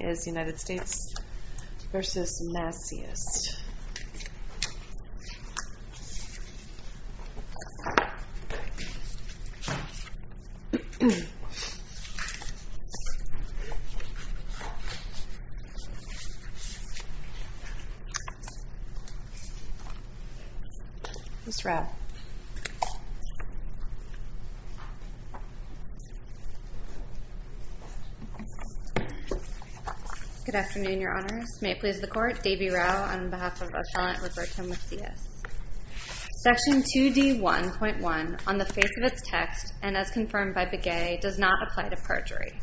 is the United States v. Macias. Let's wrap. Good afternoon, Your Honors. May it please the Court, Davie Rau on behalf of Ashant Roberto Macias. Section 2D.1.1 on the face of its text, and as confirmed by Begay, does not apply to perjury.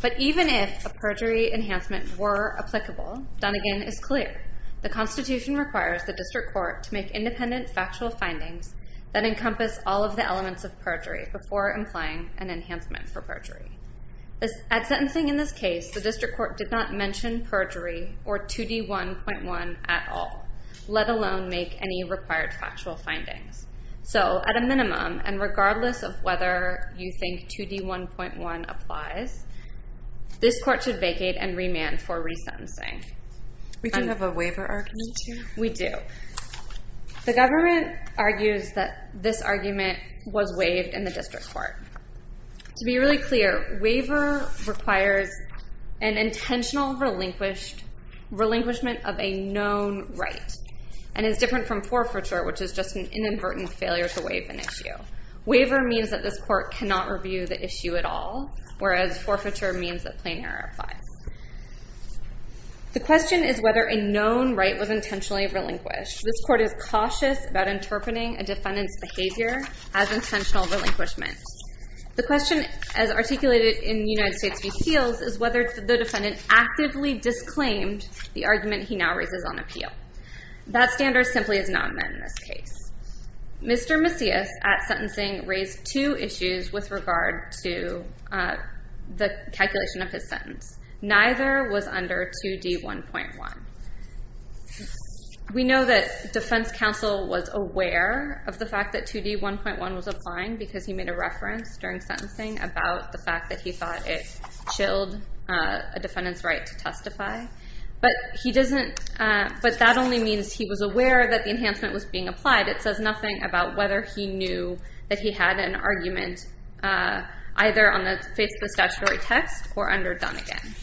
But even if a perjury enhancement were applicable, Donegan is clear. The Constitution requires the District Court to make independent factual findings that encompass all of the elements of perjury before implying an enhancement for perjury. At sentencing in this case, the District Court did not mention perjury or 2D.1.1 at all, let alone make any required factual findings. So, at a minimum, and regardless of whether you think 2D.1.1 applies, this Court should vacate and remand for resentencing. We do have a waiver argument here. We do. The government argues that this argument was waived in the District Court. To be really clear, waiver requires an intentional relinquishment of a known right. And it's different from forfeiture, which is just an inadvertent failure to waive an issue. Waiver means that this Court cannot review the issue at all, whereas forfeiture means that plain error applies. The question is whether a known right was intentionally relinquished. This Court is cautious about interpreting a defendant's behavior as intentional relinquishment. The question, as articulated in United States v. Peels, is whether the defendant actively disclaimed the argument he now raises on appeal. That standard simply is not met in this case. Mr. Macias, at sentencing, raised two issues with regard to the calculation of his sentence. Neither was under 2D.1.1. We know that defense counsel was aware of the fact that 2D.1.1 was applying because he made a reference during sentencing about the fact that he thought it chilled a defendant's right to testify. But that only means he was aware that the enhancement was being applied. It says nothing about whether he knew that he had an argument either on the face of the statutory text or under done again.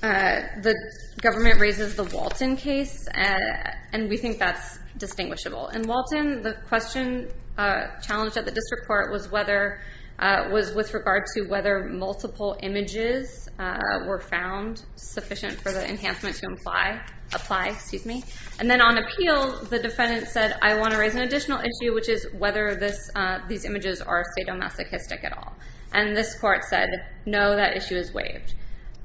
The government raises the Walton case, and we think that's distinguishable. In Walton, the question challenged at the district court was with regard to whether multiple images were found sufficient for the enhancement to apply. And then on appeal, the defendant said, I want to raise an additional issue, which is whether these images are sadomasochistic at all. And this Court said, no, that issue is waived.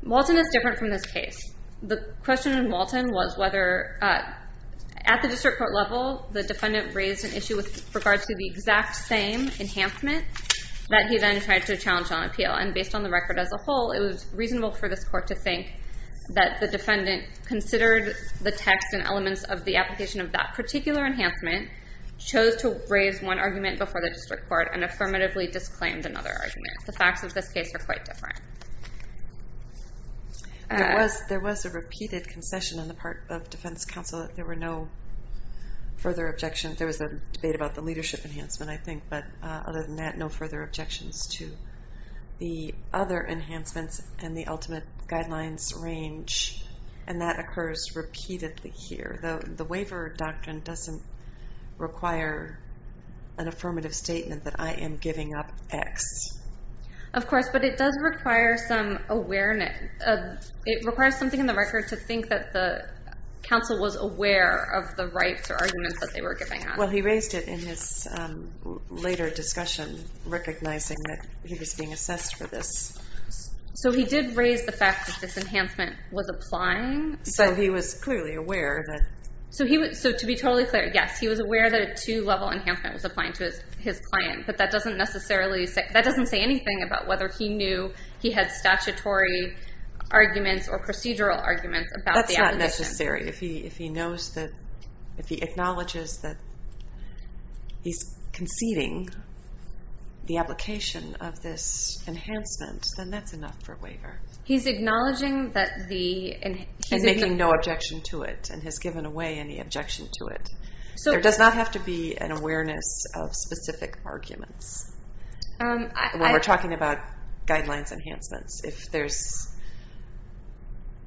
Walton is different from this case. The question in Walton was whether, at the district court level, the defendant raised an issue with regard to the exact same enhancement that he then tried to challenge on appeal. And based on the record as a whole, it was reasonable for this Court to think that the defendant considered the text and elements of the application of that particular enhancement, chose to raise one argument before the district court, and affirmatively disclaimed another argument. The facts of this case are quite different. There was a repeated concession on the part of defense counsel that there were no further objections. There was a debate about the leadership enhancement, I think, but other than that, no further objections to the other enhancements and the ultimate guidelines range, and that occurs repeatedly here. The waiver doctrine doesn't require an affirmative statement that I am giving up X. Of course, but it does require some awareness. It requires something in the record to think that the counsel was aware of the rights or arguments that they were giving us. Well, he raised it in his later discussion, recognizing that he was being assessed for this. So he did raise the fact that this enhancement was applying. So he was clearly aware that... So to be totally clear, yes, he was aware that a two-level enhancement was applying to his client, but that doesn't necessarily say anything about whether he knew he had statutory arguments or procedural arguments about the application. That's necessary. If he acknowledges that he's conceding the application of this enhancement, then that's enough for a waiver. He's acknowledging that the... And making no objection to it and has given away any objection to it. There does not have to be an awareness of specific arguments when we're talking about guidelines enhancements. If there's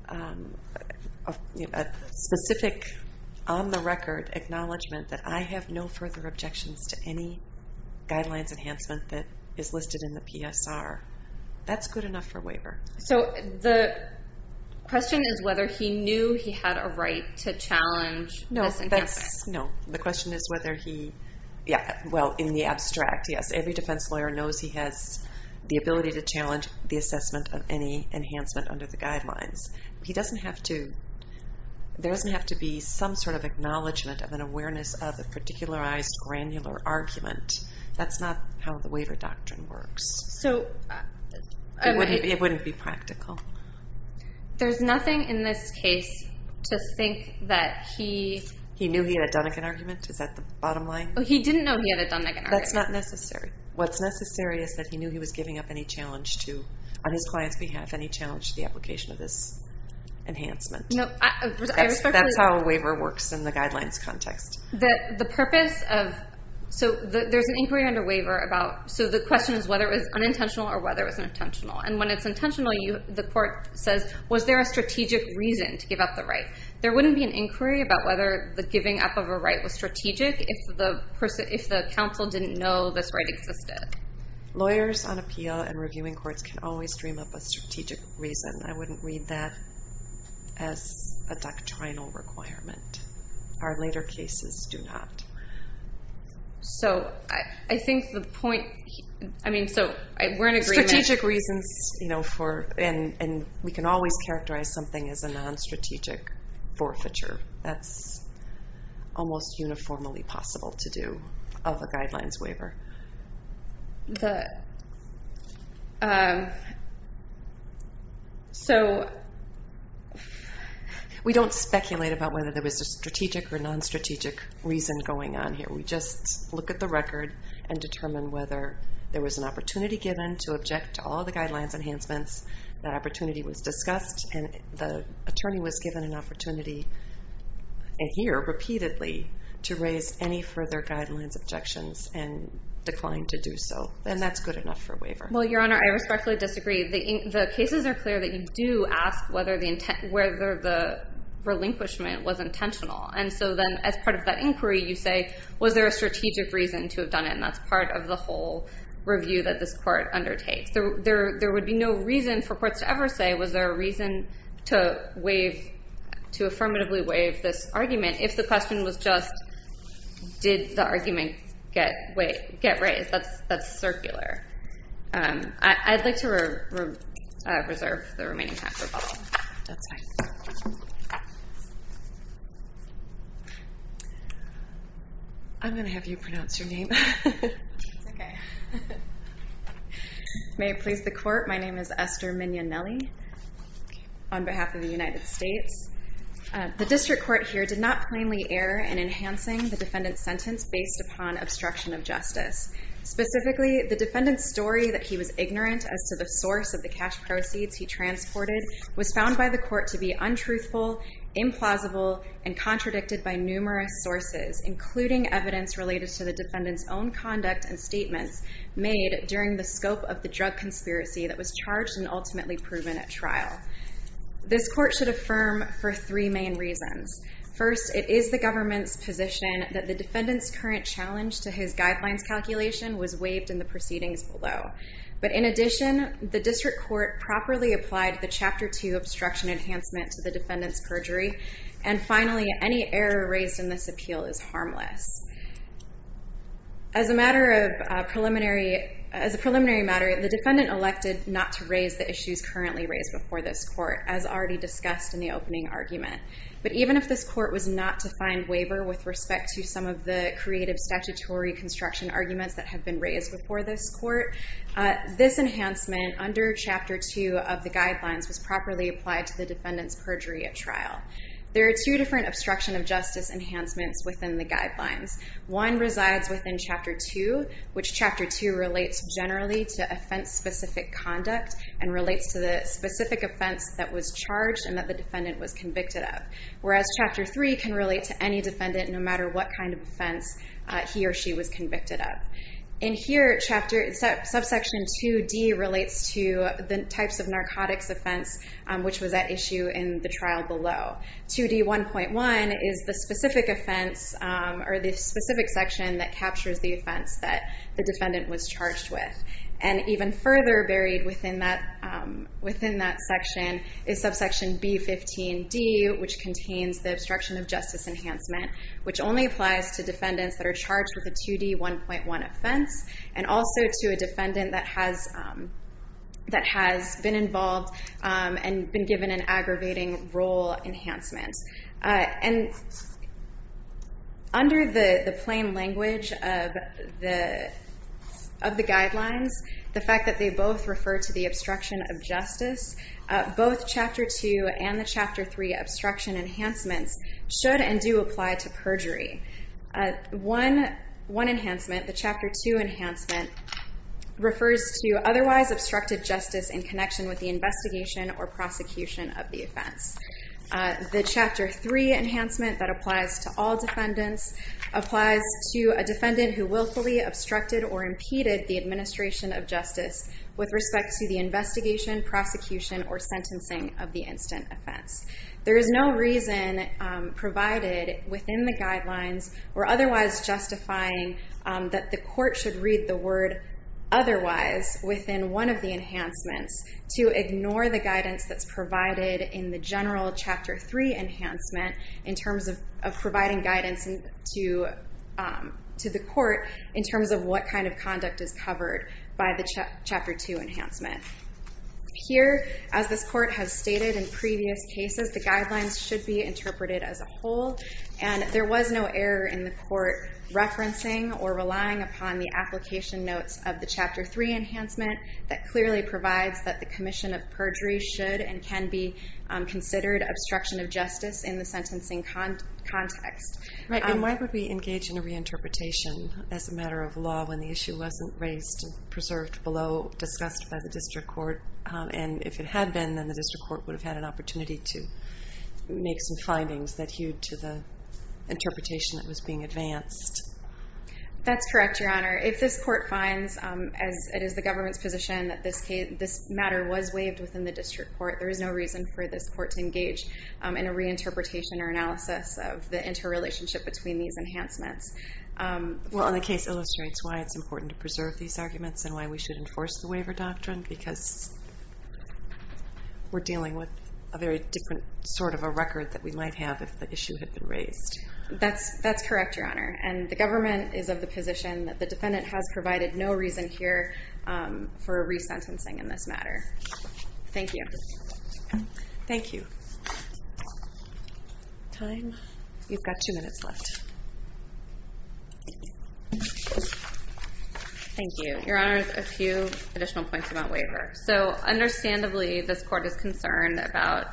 a specific on-the-record acknowledgment that I have no further objections to any guidelines enhancement that is listed in the PSR, that's good enough for a waiver. So the question is whether he knew he had a right to challenge this enhancement. No. The question is whether he... Yeah, well, in the abstract, yes. Every defense lawyer knows he has the ability to challenge the assessment of any enhancement under the guidelines. He doesn't have to... There doesn't have to be some sort of acknowledgment of an awareness of a particularized granular argument. That's not how the waiver doctrine works. So... It wouldn't be practical. There's nothing in this case to think that he... He knew he had a Dunnegan argument? Is that the bottom line? He didn't know he had a Dunnegan argument. That's not necessary. What's necessary is that he knew he was giving up any challenge to, on his client's behalf, any challenge to the application of this enhancement. That's how a waiver works in the guidelines context. The purpose of... So there's an inquiry under waiver about... So the question is whether it was unintentional or whether it was intentional. And when it's intentional, the court says, was there a strategic reason to give up the right? There wouldn't be an inquiry about whether the giving up of a right was strategic if the counsel didn't know this right existed. Lawyers on appeal and reviewing courts can always dream up a strategic reason. I wouldn't read that as a doctrinal requirement. Our later cases do not. So I think the point... I mean, so we're in agreement... And we can always characterize something as a non-strategic forfeiture. That's almost uniformly possible to do of a guidelines waiver. So we don't speculate about whether there was a strategic or non-strategic reason going on here. We just look at the record and determine whether there was an opportunity given to object to all the guidelines enhancements. That opportunity was discussed. And the attorney was given an opportunity here repeatedly to raise any further guidelines objections and declined to do so. And that's good enough for a waiver. Well, Your Honor, I respectfully disagree. The cases are clear that you do ask whether the relinquishment was intentional. And so then as part of that inquiry, you say, was there a strategic reason to have done it? And that's part of the whole review that this court undertakes. There would be no reason for courts to ever say, was there a reason to affirmatively waive this argument if the question was just, did the argument get raised? That's circular. I'd like to reserve the remaining time for Bob. That's fine. I'm going to have you pronounce your name. It's OK. May it please the court, my name is Esther Mignonelli on behalf of the United States. The district court here did not plainly err in enhancing the defendant's sentence based upon obstruction of justice. Specifically, the defendant's story that he was ignorant as to the source of the cash proceeds he transported was found by the court to be untruthful, implausible, and contradicted by numerous sources, including evidence related to the defendant's own conduct and statements made during the scope of the drug conspiracy that was charged and ultimately proven at trial. This court should affirm for three main reasons. First, it is the government's position that the defendant's current challenge to his guidelines calculation was waived in the proceedings below. But in addition, the district court properly applied the Chapter 2 obstruction enhancement to the defendant's perjury. And finally, any error raised in this appeal is harmless. As a matter of preliminary, as a preliminary matter, the defendant elected not to raise the issues currently raised before this court, as already discussed in the opening argument. But even if this court was not to find waiver with respect to some of the creative statutory construction arguments that have been raised before this court, this enhancement under Chapter 2 of the guidelines was properly applied to the defendant's perjury at trial. There are two different obstruction of justice enhancements within the guidelines. One resides within Chapter 2, which Chapter 2 relates generally to offense-specific conduct and relates to the specific offense that was charged and that the defendant was convicted of. Whereas Chapter 3 can relate to any defendant, no matter what kind of offense he or she was convicted of. In here, Subsection 2D relates to the types of narcotics offense, which was at issue in the trial below. 2D1.1 is the specific offense or the specific section that captures the offense that the defendant was charged with. And even further buried within that section is Subsection B15D, which contains the obstruction of justice enhancement, which only applies to defendants that are charged with a 2D1.1 offense and also to a defendant that has been involved and been given an aggravating role enhancement. And under the plain language of the guidelines, the fact that they both refer to the obstruction of justice, both Chapter 2 and the Chapter 3 obstruction enhancements should and do apply to perjury. One enhancement, the Chapter 2 enhancement, refers to otherwise obstructed justice in connection with the investigation or prosecution of the offense. The Chapter 3 enhancement that applies to all defendants applies to a defendant who willfully obstructed or impeded the administration of justice with respect to the investigation, prosecution, or sentencing of the instant offense. There is no reason provided within the guidelines or otherwise justifying that the court should read the word otherwise within one of the enhancements to ignore the guidance that's provided in the general Chapter 3 enhancement in terms of providing guidance to the court in terms of what kind of conduct is covered by the Chapter 2 enhancement. Here, as this court has stated in previous cases, the guidelines should be interpreted as a whole, and there was no error in the court referencing or relying upon the application notes of the Chapter 3 enhancement that clearly provides that the commission of perjury should and can be considered obstruction of justice in the sentencing context. Why would we engage in a reinterpretation as a matter of law when the issue wasn't raised, preserved below, discussed by the district court? And if it had been, then the district court would have had an opportunity to make some findings that hewed to the interpretation that was being advanced. That's correct, Your Honor. If this court finds, as it is the government's position, that this matter was waived within the district court, there is no reason for this court to engage in a reinterpretation or analysis of the interrelationship between these enhancements. Well, and the case illustrates why it's important to preserve these arguments and why we should enforce the waiver doctrine, because we're dealing with a very different sort of a record that we might have if the issue had been raised. That's correct, Your Honor, and the government is of the position that the defendant has provided no reason here for resentencing in this matter. Thank you. Thank you. Time? You've got two minutes left. Thank you. Your Honor, a few additional points about waiver. So, understandably, this court is concerned about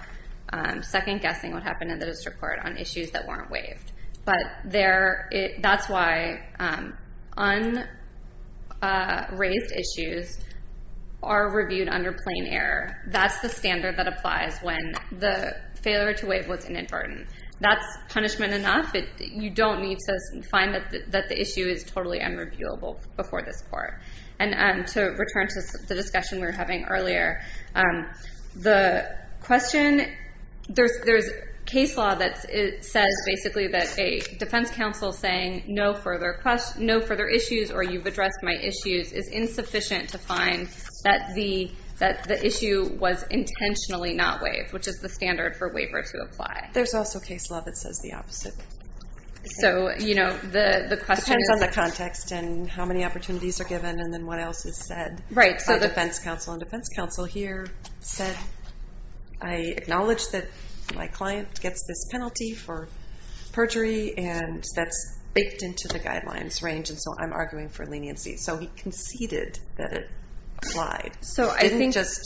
second-guessing what happened in the district court on issues that weren't waived. But that's why unraised issues are reviewed under plain error. That's the standard that applies when the failure to waive was inadvertent. That's punishment enough. You don't need to find that the issue is totally unreviewable before this court. And to return to the discussion we were having earlier, the question, there's case law that says basically that a defense counsel saying, no further issues or you've addressed my issues is insufficient to find that the issue was intentionally not waived, which is the standard for waiver to apply. There's also case law that says the opposite. So, you know, the question is... Depends on the context and how many opportunities are given and then what else is said. Right. A defense counsel and defense counsel here said, I acknowledge that my client gets this penalty for perjury, and that's baked into the guidelines range, and so I'm arguing for leniency. So he conceded that it applied. Didn't just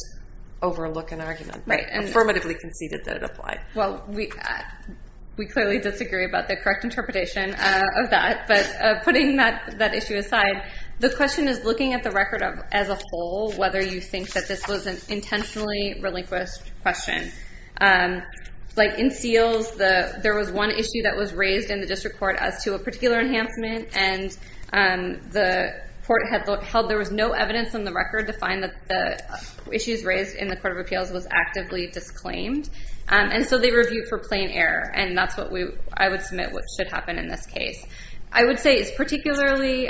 overlook an argument, but affirmatively conceded that it applied. Well, we clearly disagree about the correct interpretation of that, but putting that issue aside, the question is looking at the record as a whole, whether you think that this was an intentionally relinquished question. Like in Seals, there was one issue that was raised in the district court as to a particular enhancement, and the court held there was no evidence in the record to find that the issues raised in the Court of Appeals was actively disclaimed. And so they reviewed for plain error, and that's what I would submit should happen in this case. I would say it's particularly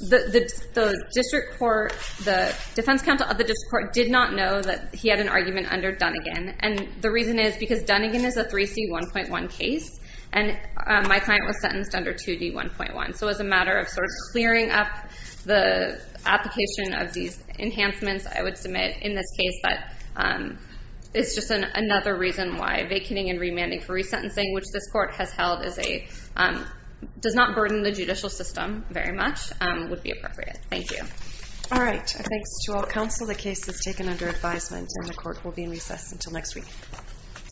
the district court, the defense counsel of the district court, did not know that he had an argument under Dunnigan, and the reason is because Dunnigan is a 3C1.1 case, and my client was sentenced under 2D1.1. So as a matter of sort of clearing up the application of these enhancements, I would submit in this case that it's just another reason why vacating and remanding for resentencing, which this court has held does not burden the judicial system very much, would be appropriate. Thank you. All right. Thanks to all counsel. The case is taken under advisement, and the court will be in recess until next week.